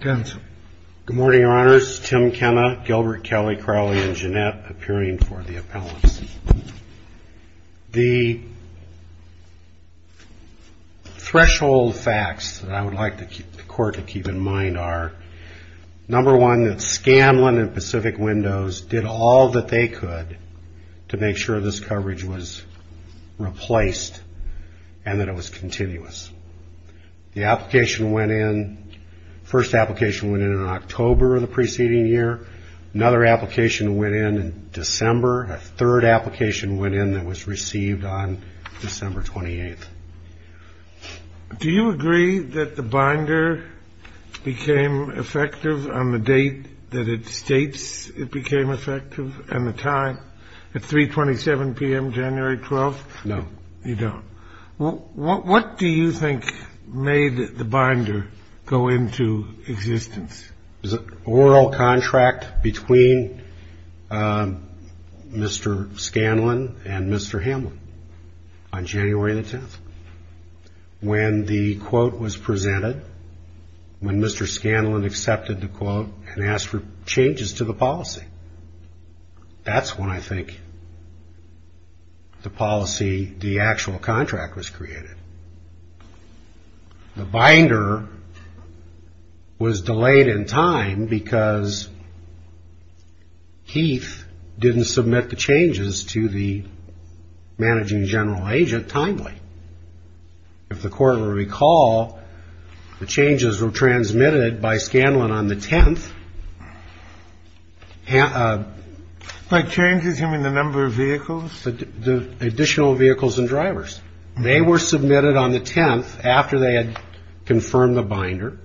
The threshold facts that I would like the court to keep in mind are, number one, that Scanlon and Pacific Windows did all that they could to make sure this coverage was replaced and that it was continuous. The first application went in in October of the preceding year, another application went in in December, and a third application went in that was received on December 28th. Do you agree that the binder became effective on the date that it states it became effective and the time, at 327 p.m. January 12th? No. You don't. What do you think made the binder go into existence? There was an oral contract between Mr. Scanlon and Mr. Hamlin on January 10th. When the quote was presented, when Mr. Scanlon accepted the quote and asked for changes to the policy, that's when I think the policy, the actual contract, was created. The binder was delayed in time because Heath didn't submit the changes to the managing general agent timely. If the court will recall, the changes were transmitted by Scanlon on the 10th. Like changes in the number of vehicles? The additional vehicles and drivers. They were submitted on the 10th after they had confirmed the binder.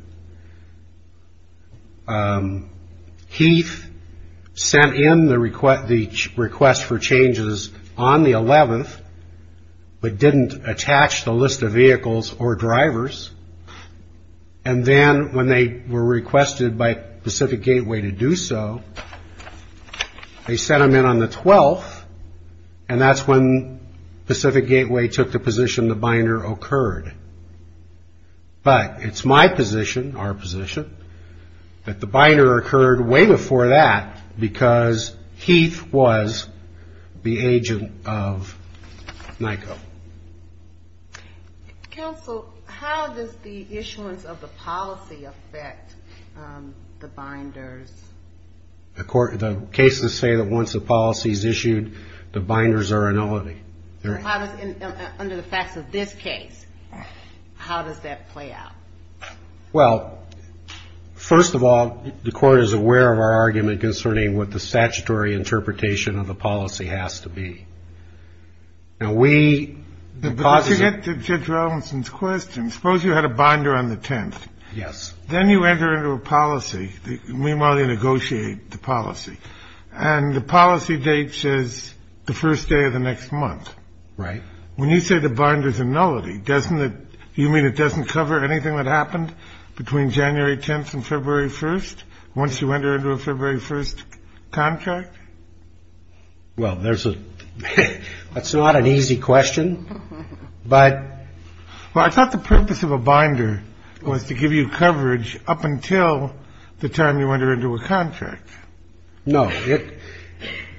Heath sent in the request for changes on the 11th, but didn't attach the list of vehicles or drivers, and then when they were requested by Pacific Gateway to do so, they sent them in on the 12th, and that's when Pacific Gateway took the position the binder occurred. But it's my position, our position, that the binder occurred way before that because Heath was the agent of NICO. Counsel, how does the issuance of the policy affect the binders? The court, the cases say that once the policy is issued, the binders are annulled. Under the facts of this case, how does that play out? Well, first of all, the court is aware of our argument concerning what the statutory interpretation of the policy has to be. Now, we... But to get to Judge Robinson's question, suppose you had a binder on the 10th. Yes. Then you enter into a policy, meanwhile you negotiate the policy, and the policy date says the first day of the next month. Right. When you say the binder's annullity, doesn't it, you mean it doesn't cover anything that happened between January 10th and the 10th? Well, there's a... That's not an easy question, but... Well, I thought the purpose of a binder was to give you coverage up until the time you enter into a contract. No.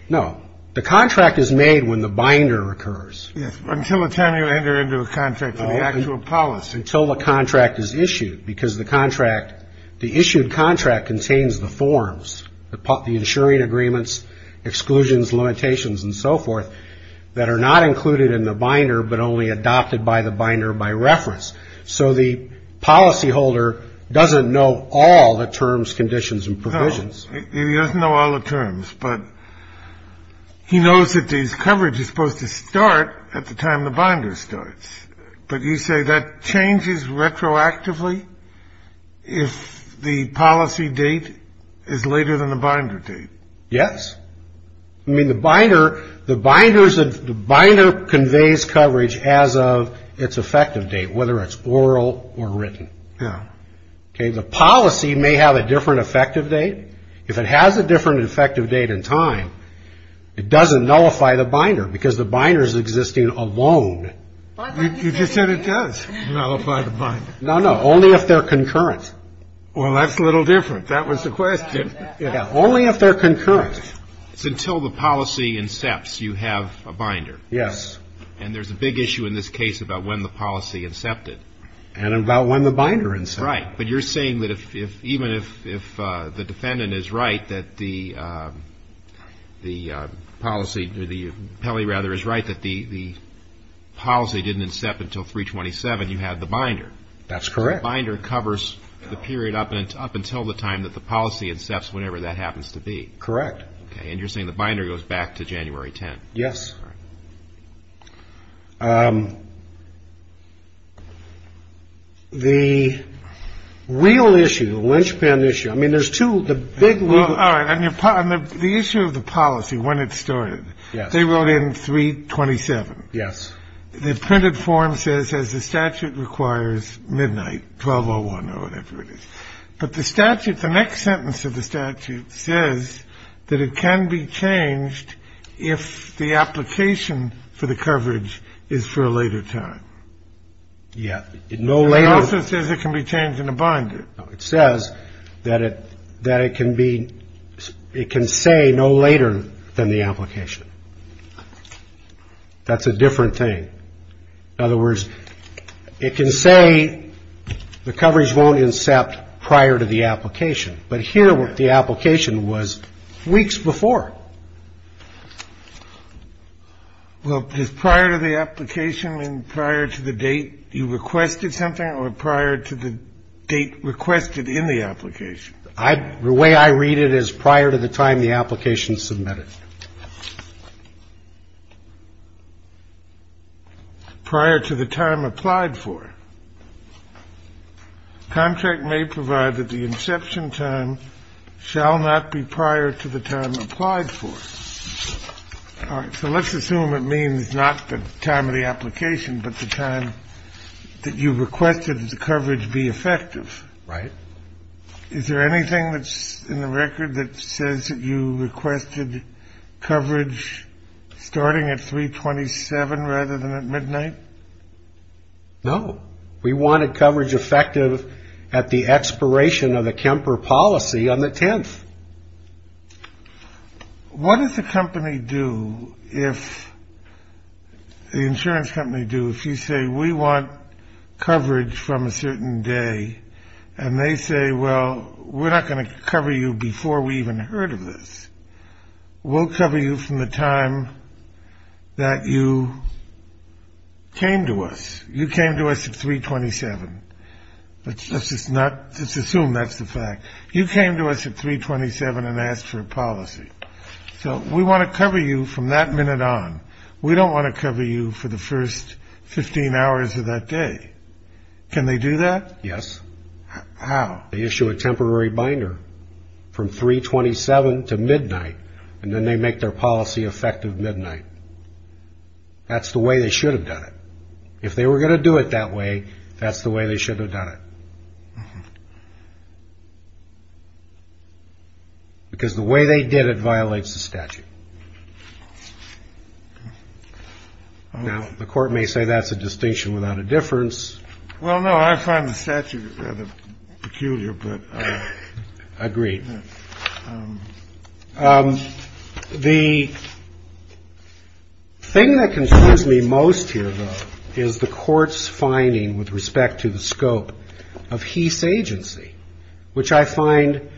No. The contract is made when the binder occurs. Yes. Until the time you enter into a contract, the actual policy. Until the contract is issued, because the contract, the issued contract contains the forms, the insuring agreements, exclusions, limitations, and so forth, that are not included in the binder, but only adopted by the binder by reference. So the policyholder doesn't know all the terms, conditions, and provisions. He doesn't know all the terms, but he knows that this coverage is supposed to start at the time the binder starts. But you say that changes retroactively if the policy date is later than the binder date. Yes. I mean, the binder, the binders, the binder conveys coverage as of its effective date, whether it's oral or written. Now, the policy may have a different effective date. If it has a different effective date and time, it doesn't nullify the binder because the binder is existing alone. You just said it does nullify the binder. No, no. Only if they're concurrent. Well, that's a little different. That was the question. Only if they're concurrent. It's until the policy incepts, you have a binder. Yes. And there's a big issue in this case about when the policy incepted. And about when the binder incepted. Right. But you're saying that if even if the defendant is right, that the policy, the penalty rather is right, that the policy didn't incept until three twenty seven, you had the binder. That's correct. Binder covers the period up and up until the time that the policy incepts, whenever that happens to be correct. And you're saying the binder goes back to January 10. Yes. The real issue, the linchpin issue. I mean, there's two big. All right. And upon the issue of the policy, when it started, they wrote in three twenty seven. Yes. The printed form says as the statute requires midnight twelve oh one or whatever it is. But the statute, the next sentence of the statute says that it can be changed if the application for the coverage is for a later time. Yeah. No. It also says it can be changed in a binder. It says that it that it can be it can say no later than the application. That's a different thing. In other words, it can say the coverage won't incept prior to the application. But here with the application was weeks before. Well, prior to the application and prior to the date, you requested something or prior to the date requested in the application. I the way I read it is prior to the time the application submitted. Prior to the time applied for. Contract may provide that the inception time shall not be prior to the time applied for. So let's assume it means not the time of the application, but the time that you requested the coverage be effective. Right. Is there anything that's in the record that says that you requested coverage starting at three twenty seven rather than at midnight? No. We wanted coverage effective at the expiration of the Kemper policy on the 10th. What does the company do if the insurance company do if you say we want coverage from a certain day and they say, well, we're not going to cover you before we even heard of this. We'll cover you from the time that you came to us. You came to us at three twenty seven. Let's just not assume that's the fact you came to us at three twenty seven and asked for a policy. So we want to cover you from that minute on. We don't want to cover you for the first 15 hours of that day. Can they do that? Yes. How they issue a temporary binder from three twenty seven to midnight and then they make their policy effective midnight. That's the way they should have done it. If they were going to do it that way, that's the way they should have done it. Because the way they did it violates the statute. Now, the court may say that's a distinction without a difference. Well, no, I find the statute peculiar, but I agree. The thing that concerns me most here, though, is the court's finding with respect to the scope of Heath's agency, which I find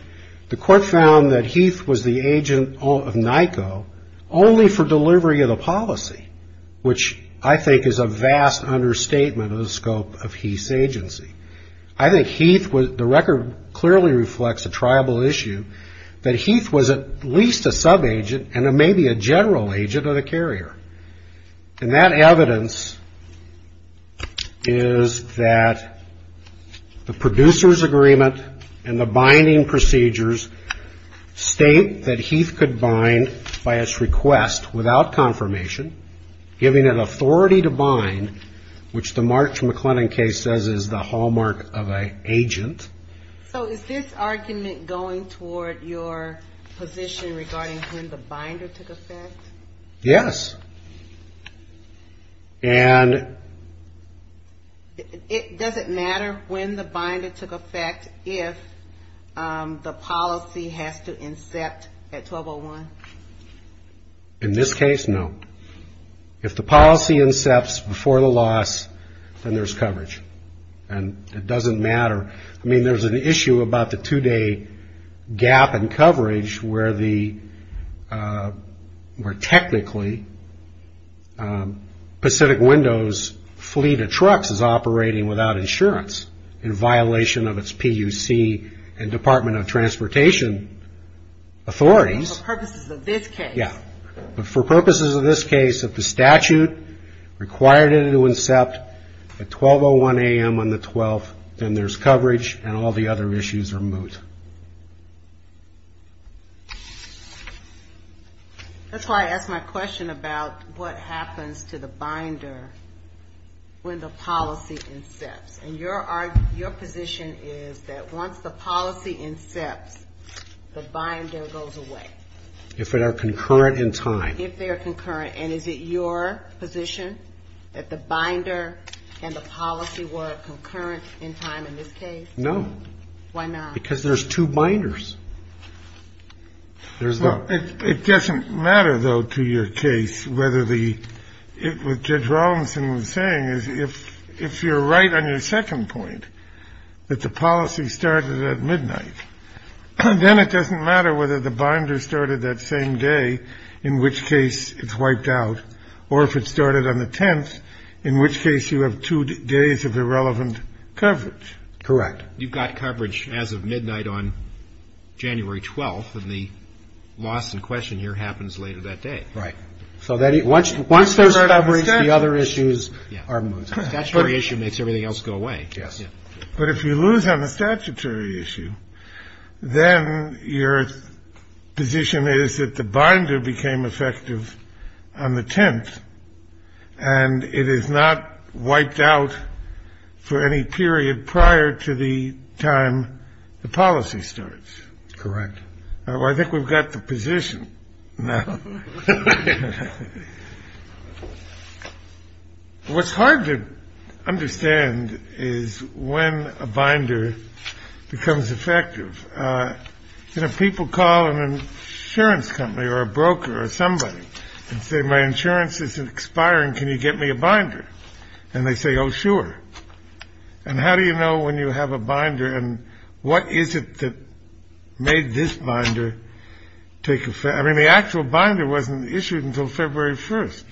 the court found that Heath was the agent of Nyko only for delivery of the policy, which I think is a vast understatement of the scope of Heath's agency. I think Heath, the record clearly reflects a tribal issue, that Heath was at least a subagent and maybe a general agent of the carrier. And that evidence is that the producer's agreement and the binding procedures state that Heath could bind by his request without confirmation, giving an authority to bind, which the March McLennan case says is the hallmark of an agent. So is this argument going toward your position regarding when the binder took effect? Yes. And. Does it matter when the binder took effect if the policy has to incept at twelve oh one? In this case, no. If the policy incepts before the loss, then there's coverage and it doesn't matter. I mean, there's an issue about the two day gap in coverage where the where technically Pacific Windows fleet of trucks is operating without insurance in violation of its PUC and Department of Transportation authorities. Purposes of this case. Yeah. But for purposes of this case, if the statute required it to incept at twelve oh one a.m. on the 12th, then there's coverage and all the other issues are moot. That's why I asked my question about what happens to the binder when the policy incepts and your your position is that once the policy incepts, the binder goes away if it are concurrent in time, if they are concurrent. And is it your position that the binder and the policy were concurrent in time in this case? No. Why not? Because there's two binders. There's no it doesn't matter, though, to your case, whether the it with Judge Robinson was saying is if if you're right on your second point, that the policy started at midnight and then it doesn't matter whether the binder started that same day, in which case it's wiped out or if it started on the 10th, in which case you have two days of irrelevant coverage. Correct. You've got coverage as of midnight on January 12th. And the loss in question here happens later that day. Right. So that once once there's coverage, the other issues are moot. That's where the issue makes everything else go away. Yes. But if you lose on the statutory issue, then your position is that the binder became effective on the 10th and it is not wiped out for any period prior to the time the policy starts. Correct. I think we've got the position now. What's hard to understand is when a binder becomes effective, people call an insurance company or a broker or somebody and say, my insurance is expiring. Can you get me a binder? And they say, oh, sure. And how do you know when you have a binder? And what is it that made this binder take effect? I mean, the actual binder wasn't issued until February 1st.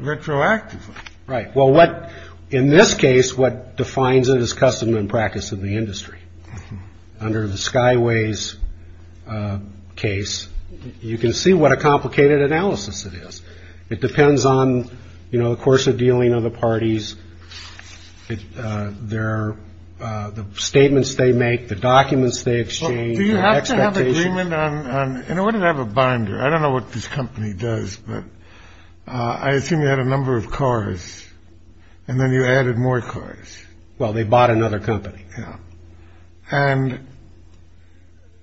Retroactively. Right. Well, what in this case, what defines it is custom and practice in the industry. Under the Skyways case, you can see what a complicated analysis it is. It depends on, you know, the course of dealing of the parties. It there are the statements they make, the documents they exchange. You have to have agreement on. And I wouldn't have a binder. I don't know what this company does, but I assume you had a number of cars and then you added more cars. Well, they bought another company. Yeah. And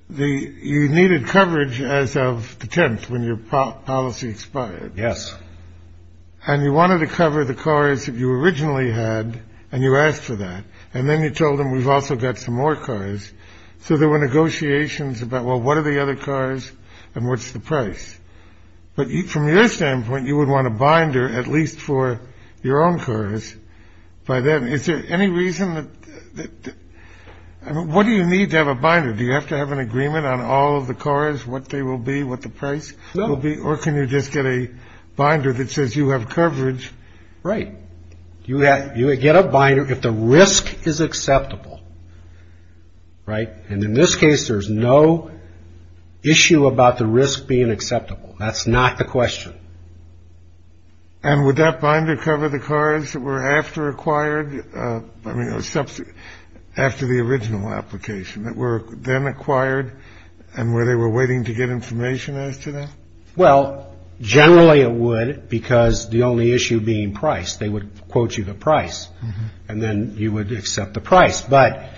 the you needed coverage as of the 10th when your policy expired. Yes. And you wanted to cover the cars that you originally had. And you asked for that. And then you told them we've also got some more cars. So there were negotiations about, well, what are the other cars and what's the price? But from your standpoint, you would want a binder, at least for your own cars by then. Is there any reason that what do you need to have a binder? Do you have to have an agreement on all of the cars, what they will be, what the price will be? Or can you just get a binder that says you have coverage? Right. You have you get a binder if the risk is acceptable. Right. And in this case, there's no issue about the risk being acceptable. That's not the question. And would that binder cover the cars that were after acquired? I mean, steps after the original application that were then acquired and where they were waiting to get information as to that. Well, generally it would, because the only issue being price, they would quote you the price and then you would accept the price. But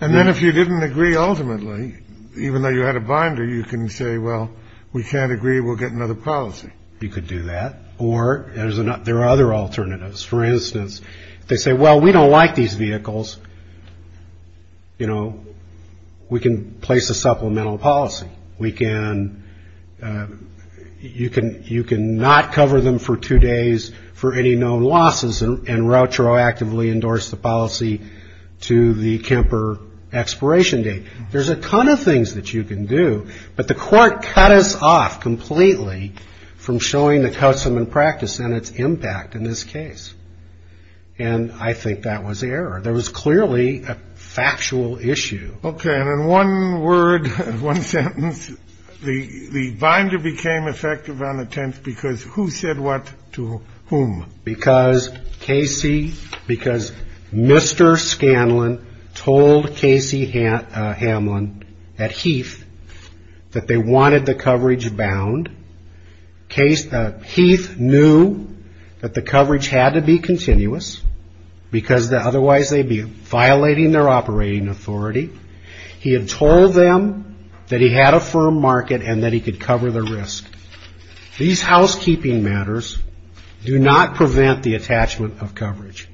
and then if you didn't agree, ultimately, even though you had a binder, you can say, well, we can't agree. We'll get another policy. You could do that. Or there are other alternatives. For instance, they say, well, we don't like these vehicles. You know, we can place a supplemental policy. We can you can you can not cover them for two days for any known losses and retroactively endorse the policy to the Kemper expiration date. There's a ton of things that you can do. But the court cut us off completely from showing the custom and practice and its impact in this case. And I think that was error. There was clearly a factual issue. OK. And in one word, one sentence, the binder became effective on the 10th because who said what to whom? Because Casey, because Mr. Scanlon told Casey Hamlin at Heath that they wanted the coverage bound case. Heath knew that the coverage had to be continuous because otherwise they'd be violating their operating authority. He had told them that he had a firm market and that he could cover the risk. These housekeeping matters do not prevent the attachment of coverage.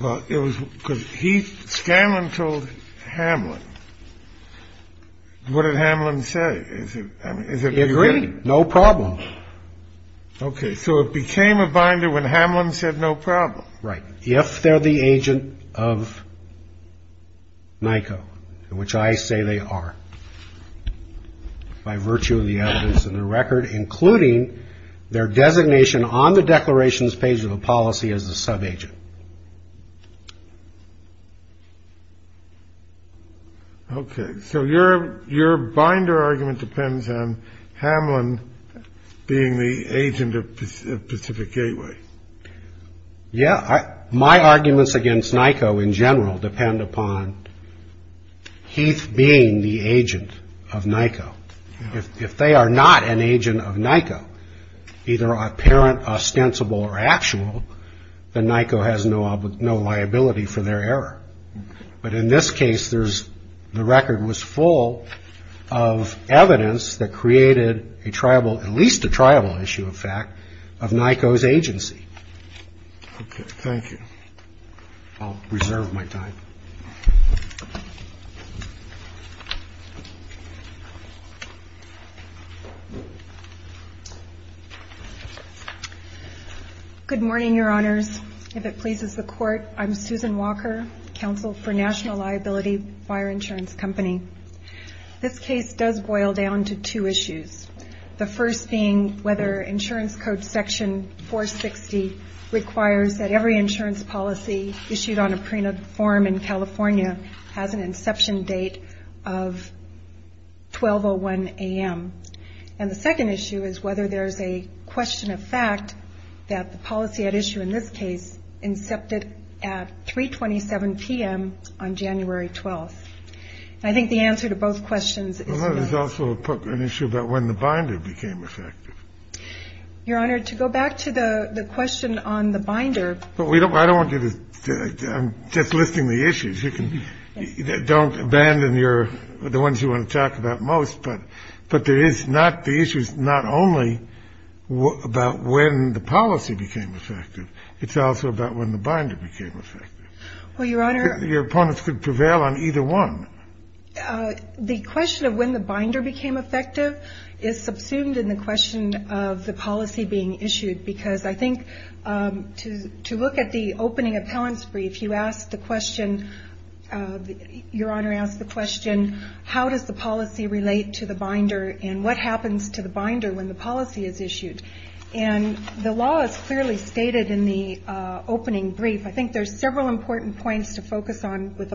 Well, it was because he Scanlon told Hamlin. What did Hamlin say? Is it agree? No problem. OK. So it became a binder when Hamlin said no problem. Right. If they're the agent of. Michael, which I say they are by virtue of the evidence in the record, including their designation on the declarations page of a policy as a subagent. OK. So your your binder argument depends on Hamlin being the agent of Pacific Gateway. Yeah. My arguments against NICO in general depend upon. Heath being the agent of NICO, if they are not an agent of NICO, either apparent, ostensible or actual, the NICO has no no liability for their error. But in this case, there's the record was full of evidence that created a tribal, at least a tribal issue, in fact, of NICO's agency. OK. Thank you. I'll reserve my time. Good morning, Your Honors. If it pleases the court, I'm Susan Walker, counsel for National Liability Fire Insurance Company. This case does boil down to two issues. The first being whether insurance code section 460 requires that every insurance policy issued on a prenup form in California has an inception date of 12 or 1 a.m. And the second issue is whether there is a question of fact that the policy at issue in this case incepted at 327 p.m. on January 12th. I think the answer to both questions is also an issue. But when the binder became effective, Your Honor, to go back to the question on the binder, but we don't I don't want you to just listing the issues you can don't abandon your the ones you want to talk about most. But but there is not the issue is not only about when the policy became effective. It's also about when the binder became effective. Well, Your Honor, your opponents could prevail on either one. The question of when the binder became effective is subsumed in the question of the policy being issued, because I think to to look at the opening appellants brief, you asked the question, Your Honor, ask the question, how does the policy relate to the binder and what happens to the binder when the policy is issued? And the law is clearly stated in the opening brief. I think there's several important points to focus on with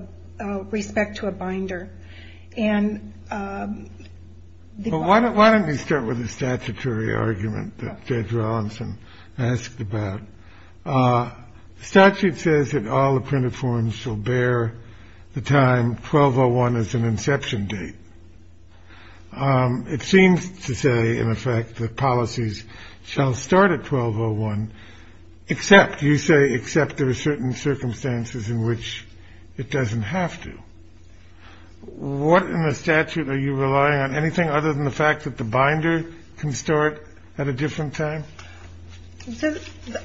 respect to a binder. And why don't why don't we start with the statutory argument that Judge Rawlinson asked about? Statute says that all the printed forms shall bear the time 1201 is an inception date. It seems to say, in effect, that policies shall start at 1201. Except you say, except there are certain circumstances in which it doesn't have to. What in the statute are you relying on? Anything other than the fact that the binder can start at a different time?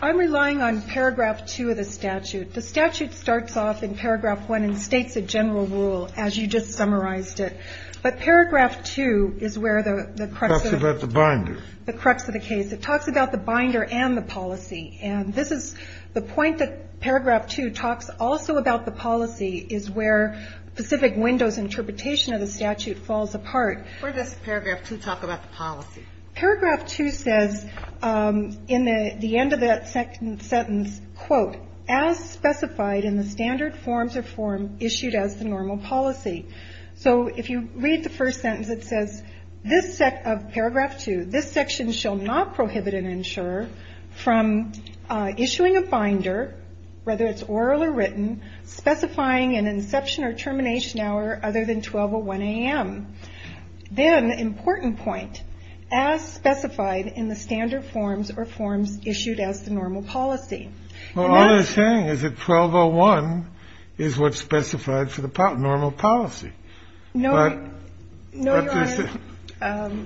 I'm relying on paragraph two of the statute. The statute starts off in paragraph one and states a general rule, as you just summarized it. But paragraph two is where the crux of the binder, the crux of the case. It talks about the binder and the policy. And this is the point that paragraph two talks also about the policy is where specific windows interpretation of the statute falls apart. Where does paragraph two talk about the policy? Paragraph two says in the end of that second sentence, quote, as specified in the standard forms of form issued as the normal policy. So if you read the first sentence, it says this set of paragraph two, this section shall not prohibit an insurer from issuing a binder, whether it's oral or written, specifying an inception or termination hour other than 1201 a.m. Then the important point as specified in the standard forms or forms issued as the normal policy. Well, all they're saying is that 1201 is what's specified for the normal policy. No, no, Your Honor,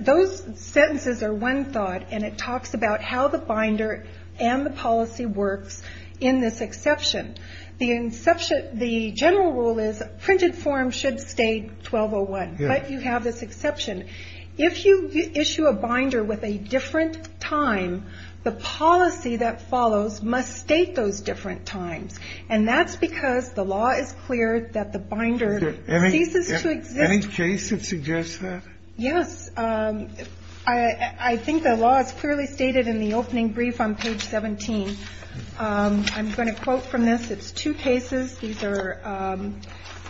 those sentences are one thought and it talks about how the binder and the policy works in this exception. The inception, the general rule is printed form should stay 1201, but you have this exception. If you issue a binder with a different time, the policy that follows must state those different times. And that's because the law is clear that the binder ceases to exist. Any case that suggests that? Yes. I think the law is clearly stated in the opening brief on page 17. I'm going to quote from this. It's two cases. These are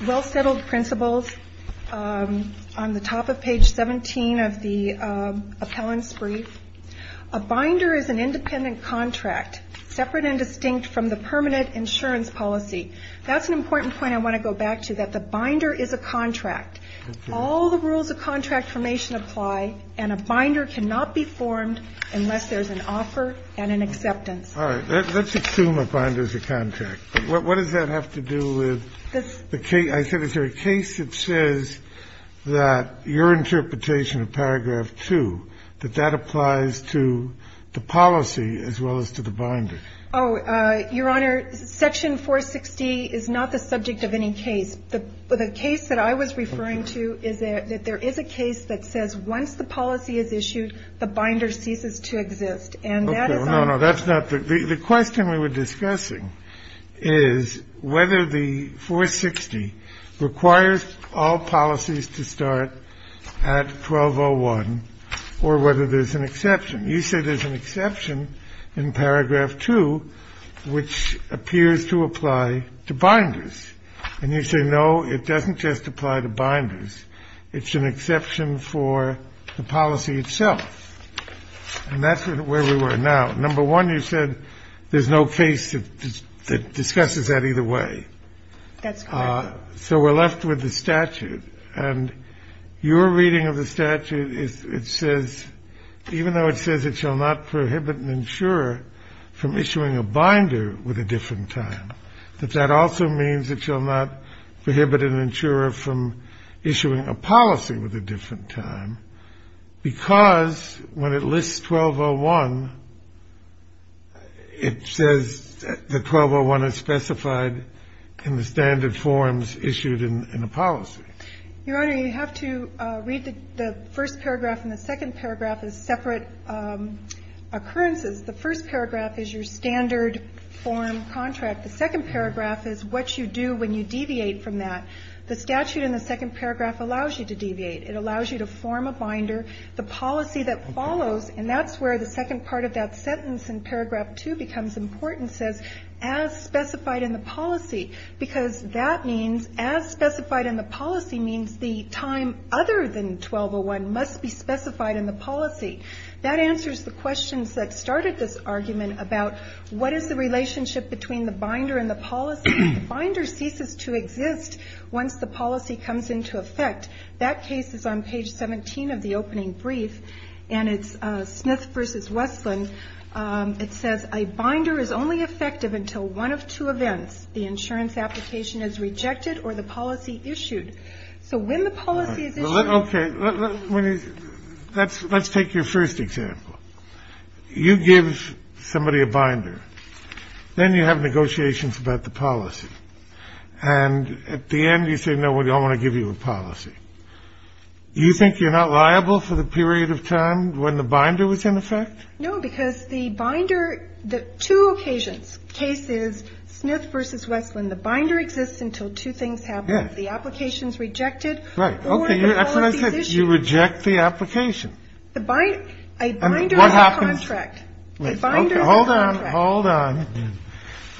well-settled principles on the top of page 17 of the appellant's brief. A binder is an independent contract separate and distinct from the permanent insurance policy. That's an important point I want to go back to, that the binder is a contract. All the rules of contract formation apply, and a binder cannot be formed unless there's an offer and an acceptance. All right. Let's assume a binder is a contract. What does that have to do with the case? I said is there a case that says that your interpretation of paragraph 2, that that applies to the policy as well as to the binder? Oh, Your Honor, section 460 is not the subject of any case. The case that I was referring to is that there is a case that says once the policy is issued, the binder ceases to exist. And that is on the case. Is whether the 460 requires all policies to start at 1201 or whether there's an exception. You say there's an exception in paragraph 2, which appears to apply to binders. And you say, no, it doesn't just apply to binders. It's an exception for the policy itself. And that's where we were now. Number one, you said there's no case that discusses that either way. That's correct. So we're left with the statute. And your reading of the statute, it says, even though it says it shall not prohibit an insurer from issuing a binder with a different time, that that also means it shall not prohibit an insurer from issuing a policy with a different time, because when it lists 1201, it says that 1201 is specified in the standard forms issued in a policy. Your Honor, you have to read the first paragraph and the second paragraph as separate occurrences. The first paragraph is your standard form contract. The second paragraph is what you do when you deviate from that. The statute in the second paragraph allows you to deviate. It allows you to form a binder. The policy that follows, and that's where the second part of that sentence in paragraph two becomes important, says, as specified in the policy. Because that means as specified in the policy means the time other than 1201 must be specified in the policy. That answers the questions that started this argument about what is the relationship between the binder and the policy. The binder ceases to exist once the policy comes into effect. That case is on page 17 of the opening brief, and it's Smith v. Westland. It says a binder is only effective until one of two events, the insurance application is rejected or the policy issued. So when the policy is issued --- Okay. Let's take your first example. You give somebody a binder. Then you have negotiations about the policy. And at the end, you say, no, we don't want to give you a policy. You think you're not liable for the period of time when the binder was in effect? No, because the binder, the two occasions, case is Smith v. Westland. The binder exists until two things happen. The application is rejected. Right. Okay. That's what I said. You reject the application. The binder. A binder is a contract. Hold on. Hold on.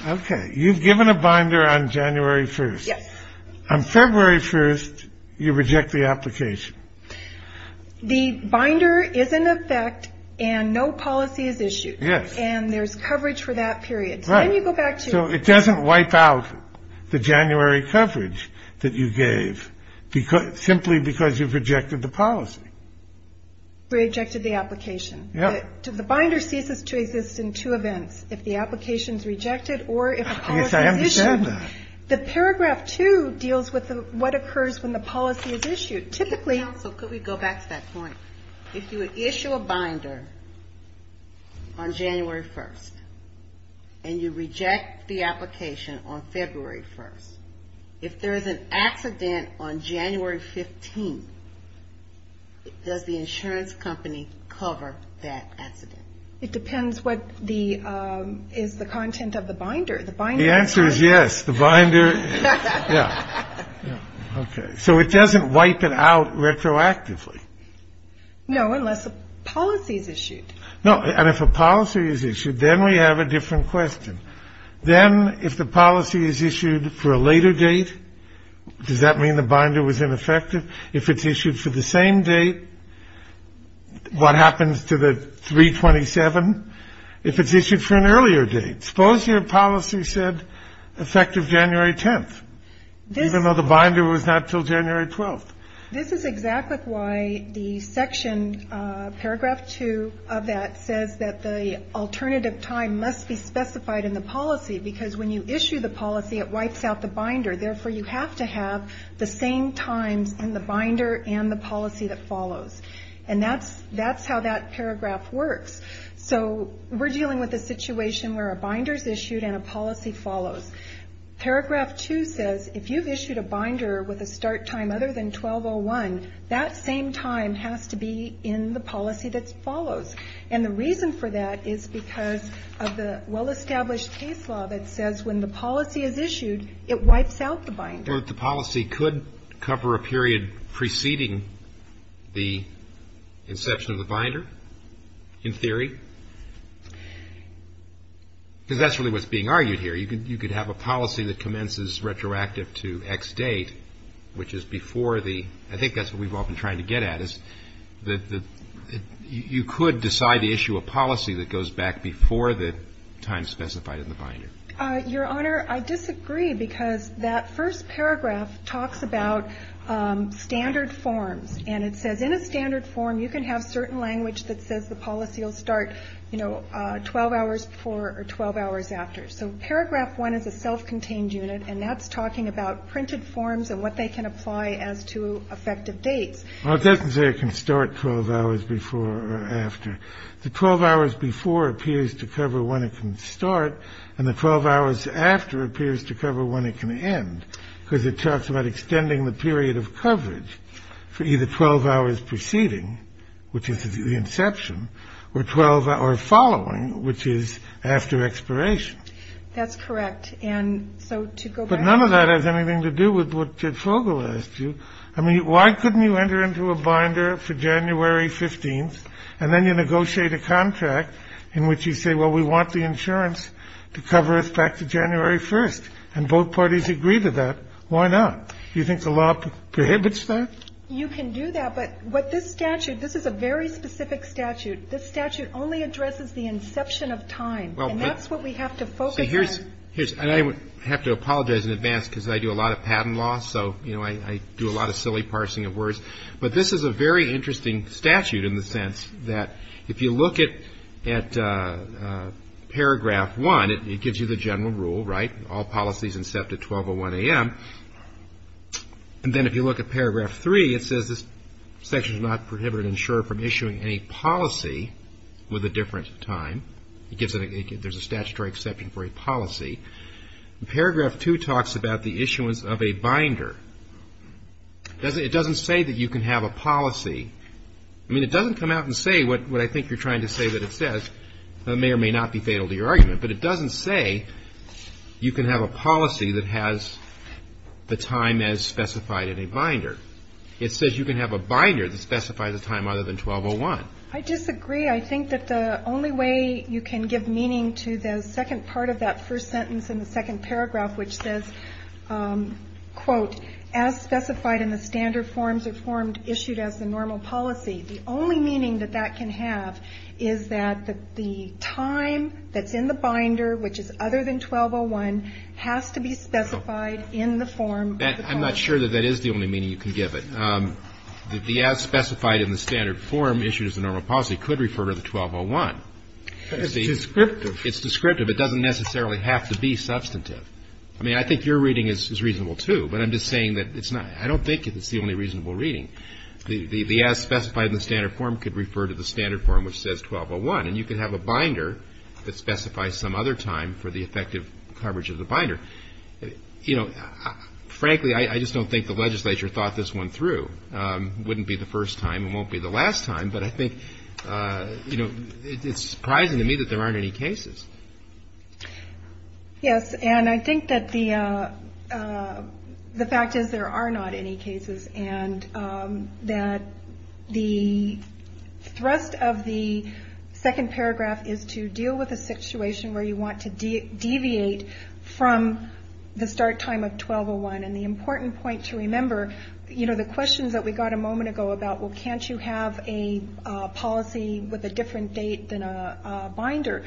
Okay. You've given a binder on January 1st. Yes. On February 1st, you reject the application. The binder is in effect and no policy is issued. Yes. And there's coverage for that period. Right. And you go back to. So it doesn't wipe out the January coverage that you gave because simply because you've rejected the policy. Rejected the application. Yeah. The binder ceases to exist in two events. If the application is rejected or if a policy is issued. The paragraph two deals with what occurs when the policy is issued. Typically. Counsel, could we go back to that point? If you would issue a binder on January 1st and you reject the application on February 1st. If there is an accident on January 15th, does the insurance company cover that accident? It depends what the is the content of the binder. The answer is yes. The binder. Yeah. Okay. So it doesn't wipe it out retroactively. No, unless a policy is issued. No. And if a policy is issued, then we have a different question. Then if the policy is issued for a later date, does that mean the binder was ineffective? If it's issued for the same date. What happens to the 327 if it's issued for an earlier date? Suppose your policy said effective January 10th, even though the binder was not until January 12th. This is exactly why the section paragraph two of that says that the alternative time must be specified in the policy. Because when you issue the policy, it wipes out the binder. Therefore, you have to have the same times in the binder and the policy that follows. And that's that's how that paragraph works. So we're dealing with a situation where a binder is issued and a policy follows. Paragraph two says if you've issued a binder with a start time other than 1201, that same time has to be in the policy that follows. And the reason for that is because of the well-established case law that says when the policy is issued, it wipes out the binder. The policy could cover a period preceding the inception of the binder, in theory, because that's really what's being argued here. You could you could have a policy that commences retroactive to X date, which is before the I think that's what we've all been trying to get at, is that you could decide to issue a policy that goes back before the time specified in the binder. Your Honor, I disagree, because that first paragraph talks about standard forms and it says in a standard form, you can have certain language that says the policy will start, you know, 12 hours before or 12 hours after. So paragraph one is a self-contained unit. And that's talking about printed forms and what they can apply as to effective dates. Well, it doesn't say it can start 12 hours before or after the 12 hours before appears to cover when it can start. And the 12 hours after appears to cover when it can end because it talks about extending the period of coverage for either 12 hours preceding, which is the inception or 12 or following, which is after expiration. That's correct. And so to go. But none of that has anything to do with what Fogel asked you. I mean, why couldn't you enter into a binder for January 15th and then you negotiate a contract in which you say, well, we want the insurance to cover us back to January 1st. And both parties agree to that. Why not? You think the law prohibits that? You can do that. But what this statute, this is a very specific statute. This statute only addresses the inception of time. Well, that's what we have to focus on. Here's and I have to apologize in advance because I do a lot of patent law. But this is a very interesting statute in the sense that if you look at at paragraph one, it gives you the general rule. Right. All policies incepted 12 or 1 a.m. And then if you look at paragraph three, it says this section is not prohibited. Ensure from issuing a policy with a different time. It gives there's a statutory exception for a policy. Paragraph two talks about the issuance of a binder. Does it doesn't say that you can have a policy. I mean, it doesn't come out and say what I think you're trying to say, that it says that may or may not be fatal to your argument. But it doesn't say you can have a policy that has the time as specified in a binder. It says you can have a binder that specifies a time other than 12 or 1. I disagree. I think that the only way you can give meaning to the second part of that first sentence in the second paragraph, which says, quote, as specified in the standard forms or formed issued as the normal policy. The only meaning that that can have is that the time that's in the binder, which is other than 12 or 1, has to be specified in the form. I'm not sure that that is the only meaning you can give it. The as specified in the standard form issued as a normal policy could refer to the 12 or 1. It's descriptive. It's descriptive. It doesn't necessarily have to be substantive. I mean, I think your reading is reasonable, too. But I'm just saying that it's not I don't think it's the only reasonable reading. The as specified in the standard form could refer to the standard form, which says 12 or 1. And you can have a binder that specifies some other time for the effective coverage of the binder. You know, frankly, I just don't think the legislature thought this one through. Wouldn't be the first time and won't be the last time. But I think, you know, it's surprising to me that there aren't any cases. Yes. And I think that the fact is there are not any cases and that the thrust of the second paragraph is to deal with a situation where you want to deviate from the start time of 12 or 1. And the important point to remember, you know, the questions that we got a moment ago about, well, can't you have a policy with a different date than a binder?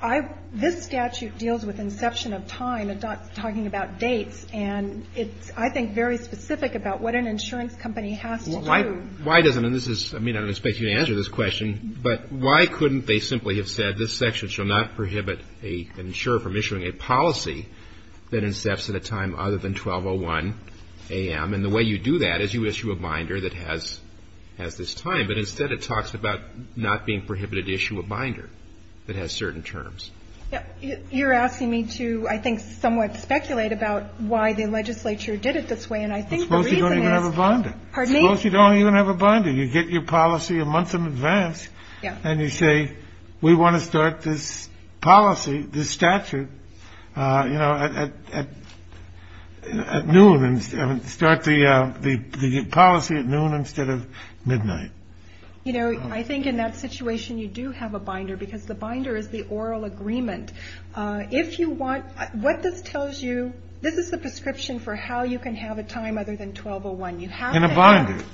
I this statute deals with inception of time and not talking about dates. And it's, I think, very specific about what an insurance company has to do. Why doesn't this is I mean, I don't expect you to answer this question, but why couldn't they simply have said this section shall not prohibit a insurer from issuing a policy that incepts at a time other than 12 or 1 a.m.? And the way you do that is you issue a binder that has has this time. But instead, it talks about not being prohibited to issue a binder that has certain terms. You're asking me to, I think, somewhat speculate about why the legislature did it this way. And I think you don't even have a bond. Pardon me. You don't even have a bond. Do you get your policy a month in advance and you say we want to start this policy, this statute, you know, at noon and start the policy at noon instead of midnight. You know, I think in that situation you do have a binder because the binder is the oral agreement. If you want what this tells you, this is the prescription for how you can have a time other than 12 or 1. And a binder.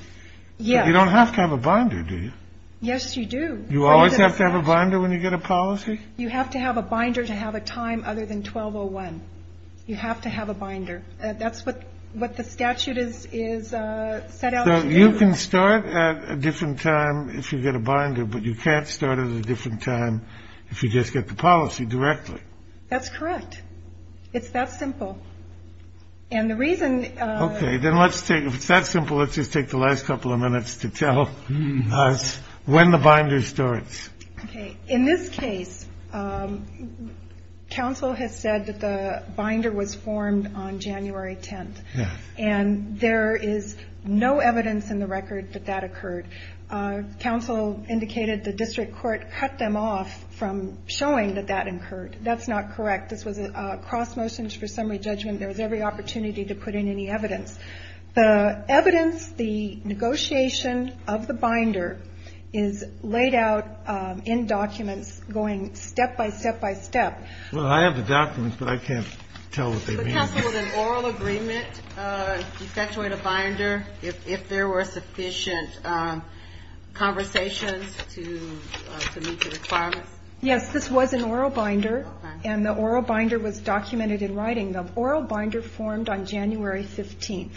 Yeah. You don't have to have a binder, do you? Yes, you do. You always have to have a binder when you get a policy. You have to have a binder to have a time other than 12 or 1. You have to have a binder. That's what what the statute is, is set out. You can start at a different time if you get a binder, but you can't start at a different time if you just get the policy directly. That's correct. It's that simple. And the reason. OK, then let's take that simple. Let's just take the last couple of minutes to tell us when the binder starts. OK. In this case, counsel has said that the binder was formed on January 10th and there is no evidence in the record that that occurred. Counsel indicated the district court cut them off from showing that that occurred. That's not correct. This was a cross motion for summary judgment. There was every opportunity to put in any evidence. The evidence, the negotiation of the binder is laid out in documents going step by step by step. Well, I have the documents, but I can't tell what they mean. Counsel, was an oral agreement effectuate a binder if there were sufficient conversations to meet the requirements? Yes, this was an oral binder. And the oral binder was documented in writing. The oral binder formed on January 15th.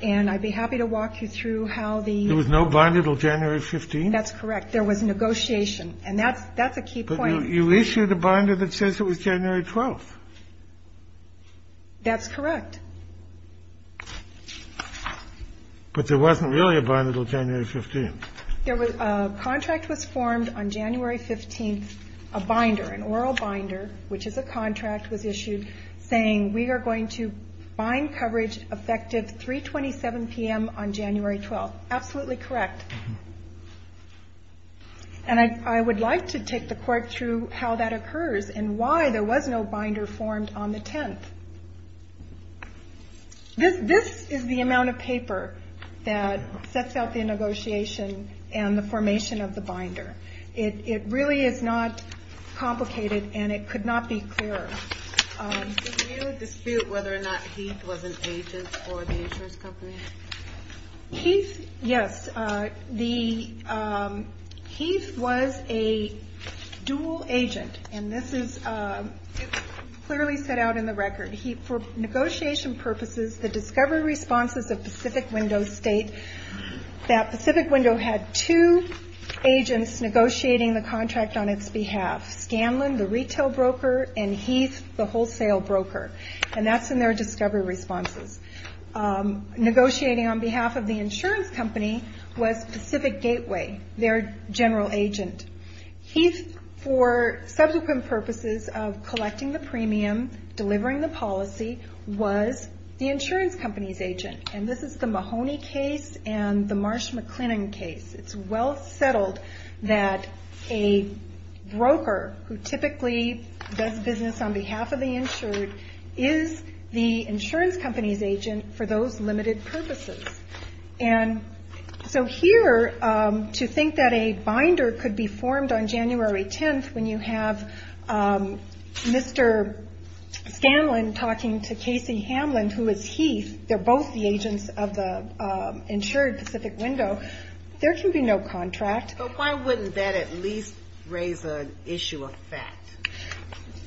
And I'd be happy to walk you through how the. There was no binder until January 15th. That's correct. There was negotiation. And that's that's a key point. You issued a binder that says it was January 12th. That's correct. But there wasn't really a binder until January 15th. There was a contract was formed on January 15th, a binder, an oral binder, which is a contract was issued saying we are going to bind coverage effective 327 p.m. on January 12th. Absolutely correct. And I would like to take the court through how that occurs and why there was no binder formed on the 10th. This is the amount of paper that sets out the negotiation and the formation of the binder. It really is not complicated and it could not be clearer. Did you dispute whether or not Heath was an agent for the insurance company? Heath, yes. The Heath was a dual agent. And this is clearly set out in the record. For negotiation purposes, the discovery responses of Pacific Window state that Pacific Window had two agents negotiating the contract on its behalf. Scanlon, the retail broker, and Heath, the wholesale broker. And that's in their discovery responses. Negotiating on behalf of the insurance company was Pacific Gateway, their general agent. Heath, for subsequent purposes of collecting the premium, delivering the policy, was the insurance company's agent. And this is the Mahoney case and the Marsh-McLennan case. It's well settled that a broker who typically does business on behalf of the insured is the insurance company's agent for those limited purposes. And so here, to think that a binder could be formed on January 10th when you have Mr. Scanlon talking to Casey Hamlin, who is Heath, they're both the agents of the insured Pacific Window, there can be no contract. But why wouldn't that at least raise an issue of fact?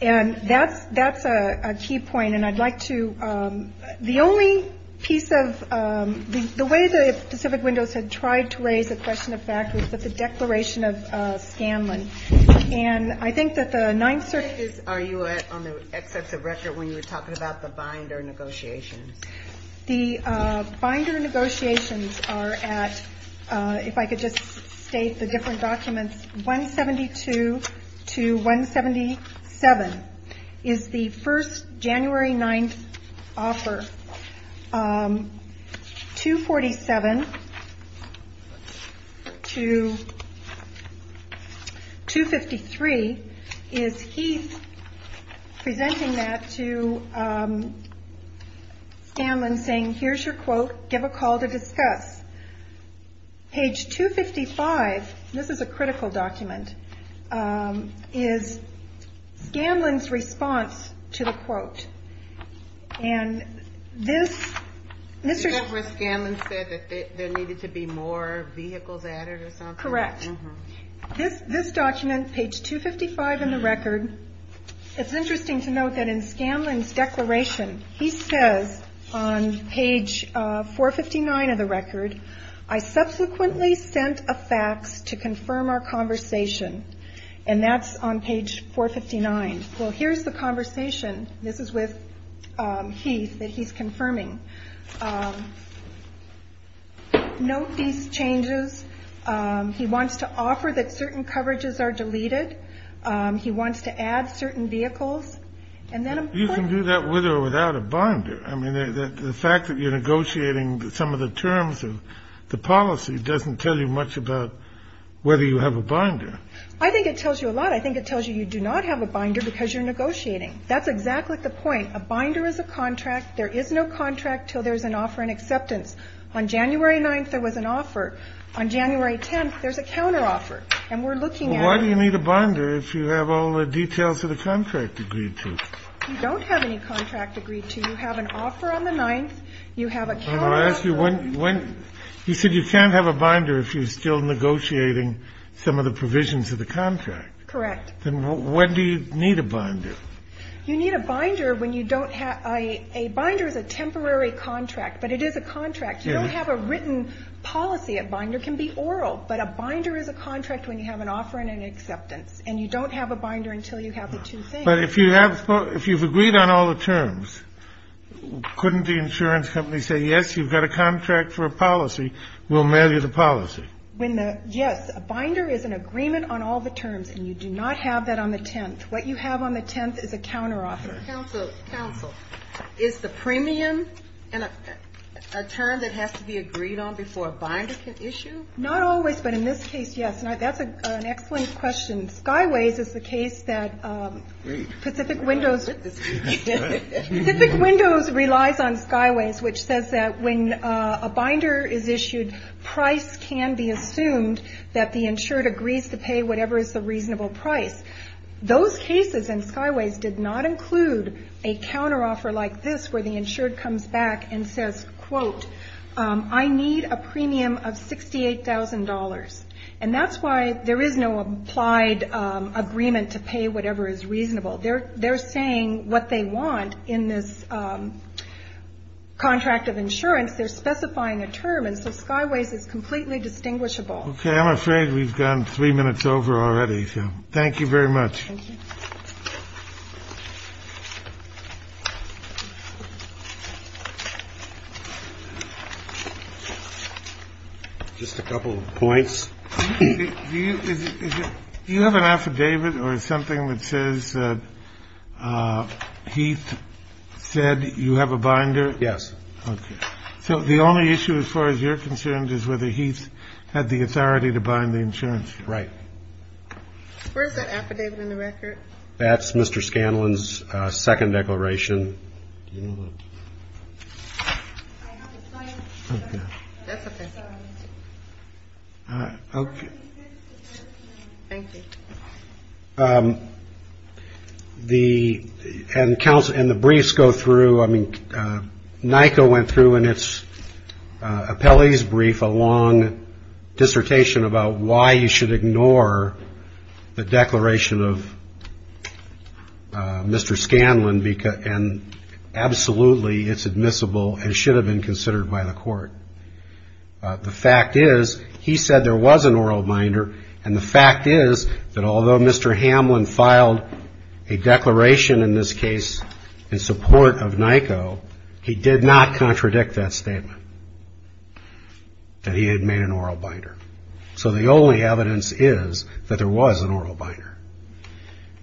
And that's a key point. And I'd like to, the only piece of, the way that Pacific Windows had tried to raise a question of fact was with the declaration of Scanlon. And I think that the ninth circuit is. Are you on the excess of record when you were talking about the binder negotiations? The binder negotiations are at, if I could just state the different documents, 172 to 177. Is the first January 9th offer, 247 to 253, is Heath presenting that to Scanlon saying, here's your quote, give a call to discuss. Page 255, this is a critical document, is Scanlon's response to the quote. And this, is that where Scanlon said that there needed to be more vehicles added or something? Correct. This document, page 255 in the record, it's interesting to note that in Scanlon's declaration, he says on page 459 of the record, I subsequently sent a fax to confirm our conversation. And that's on page 459. Well, here's the conversation. This is with Heath that he's confirming. Note these changes. He wants to offer that certain coverages are deleted. He wants to add certain vehicles. And then you can do that with or without a binder. I mean, the fact that you're negotiating some of the terms of the policy doesn't tell you much about whether you have a binder. I think it tells you a lot. I think it tells you you do not have a binder because you're negotiating. That's exactly the point. A binder is a contract. There is no contract till there's an offer and acceptance. On January 9th, there was an offer. On January 10th, there's a counteroffer. And we're looking at. Why do you need a binder if you have all the details of the contract agreed to? You don't have any contract agreed to. You have an offer on the 9th. You have a counteroffer. You said you can't have a binder if you're still negotiating some of the provisions of the contract. Correct. Then when do you need a binder? You need a binder when you don't have a binder as a temporary contract. But it is a contract. You don't have a written policy. A binder can be oral. But a binder is a contract when you have an offer and an acceptance. And you don't have a binder until you have the two things. But if you have, if you've agreed on all the terms, couldn't the insurance company say, yes, you've got a contract for a policy. We'll mail you the policy. When the yes, a binder is an agreement on all the terms. And you do not have that on the 10th. What you have on the 10th is a counteroffer. Counsel, is the premium a term that has to be agreed on before a binder can issue? Not always. But in this case, yes. And that's an excellent question. Skyways is the case that Pacific Windows relies on Skyways, which says that when a binder is issued, price can be assumed that the insured agrees to pay whatever is the reasonable price. Those cases in Skyways did not include a counteroffer like this where the insured comes back and says, quote, I need a premium of $68,000. And that's why there is no applied agreement to pay whatever is reasonable there. They're saying what they want in this contract of insurance. They're specifying a term. And so Skyways is completely distinguishable. OK, I'm afraid we've gone three minutes over already. Thank you very much. Thank you. Just a couple of points. You have an affidavit or something that says he said you have a binder. Yes. So the only issue as far as you're concerned is whether he's had the authority to bind the insurance. Right. Where's that affidavit in the record? That's Mr. Scanlon's second declaration. The council and the briefs go through. I mean, NICA went through in its appellee's brief a long dissertation about why you should ignore the declaration of Mr. Scanlon. And absolutely, it's admissible and should have been considered by the court. The fact is, he said there was an oral binder. And the fact is that although Mr. Hamlin filed a declaration in this case in support of NICO, he did not contradict that statement that he had made an oral binder. So the only evidence is that there was an oral binder.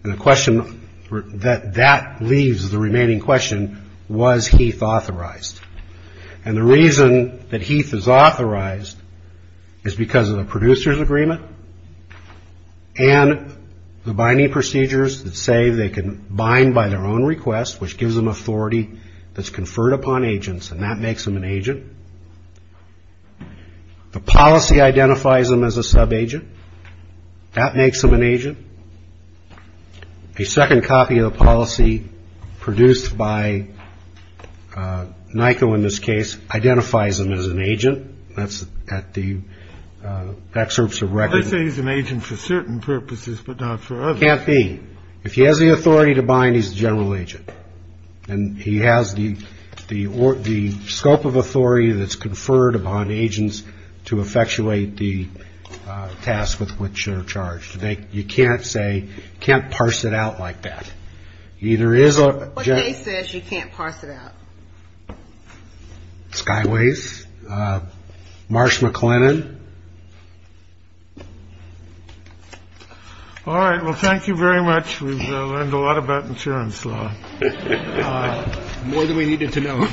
And the question that that leaves the remaining question, was Heath authorized? And the reason that Heath is authorized is because of the producer's agreement and the binding procedures that say they can bind by their own request, which gives them authority that's conferred upon agents. And that makes them an agent. The policy identifies them as a subagent. That makes them an agent. A second copy of the policy produced by NICO in this case identifies them as an agent. That's at the excerpts of record. I say he's an agent for certain purposes, but not for others. Can't be. If he has the authority to bind, he's a general agent. And he has the scope of authority that's conferred upon agents to effectuate the task with which they're charged. You can't say, can't parse it out like that. Either is what he says. You can't parse it out. Skyways, Marsh, McLennan. All right. Well, thank you very much. We've learned a lot about insurance law. More than we needed to know.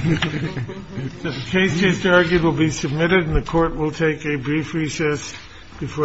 Case is argued will be submitted in the court. We'll take a brief recess before.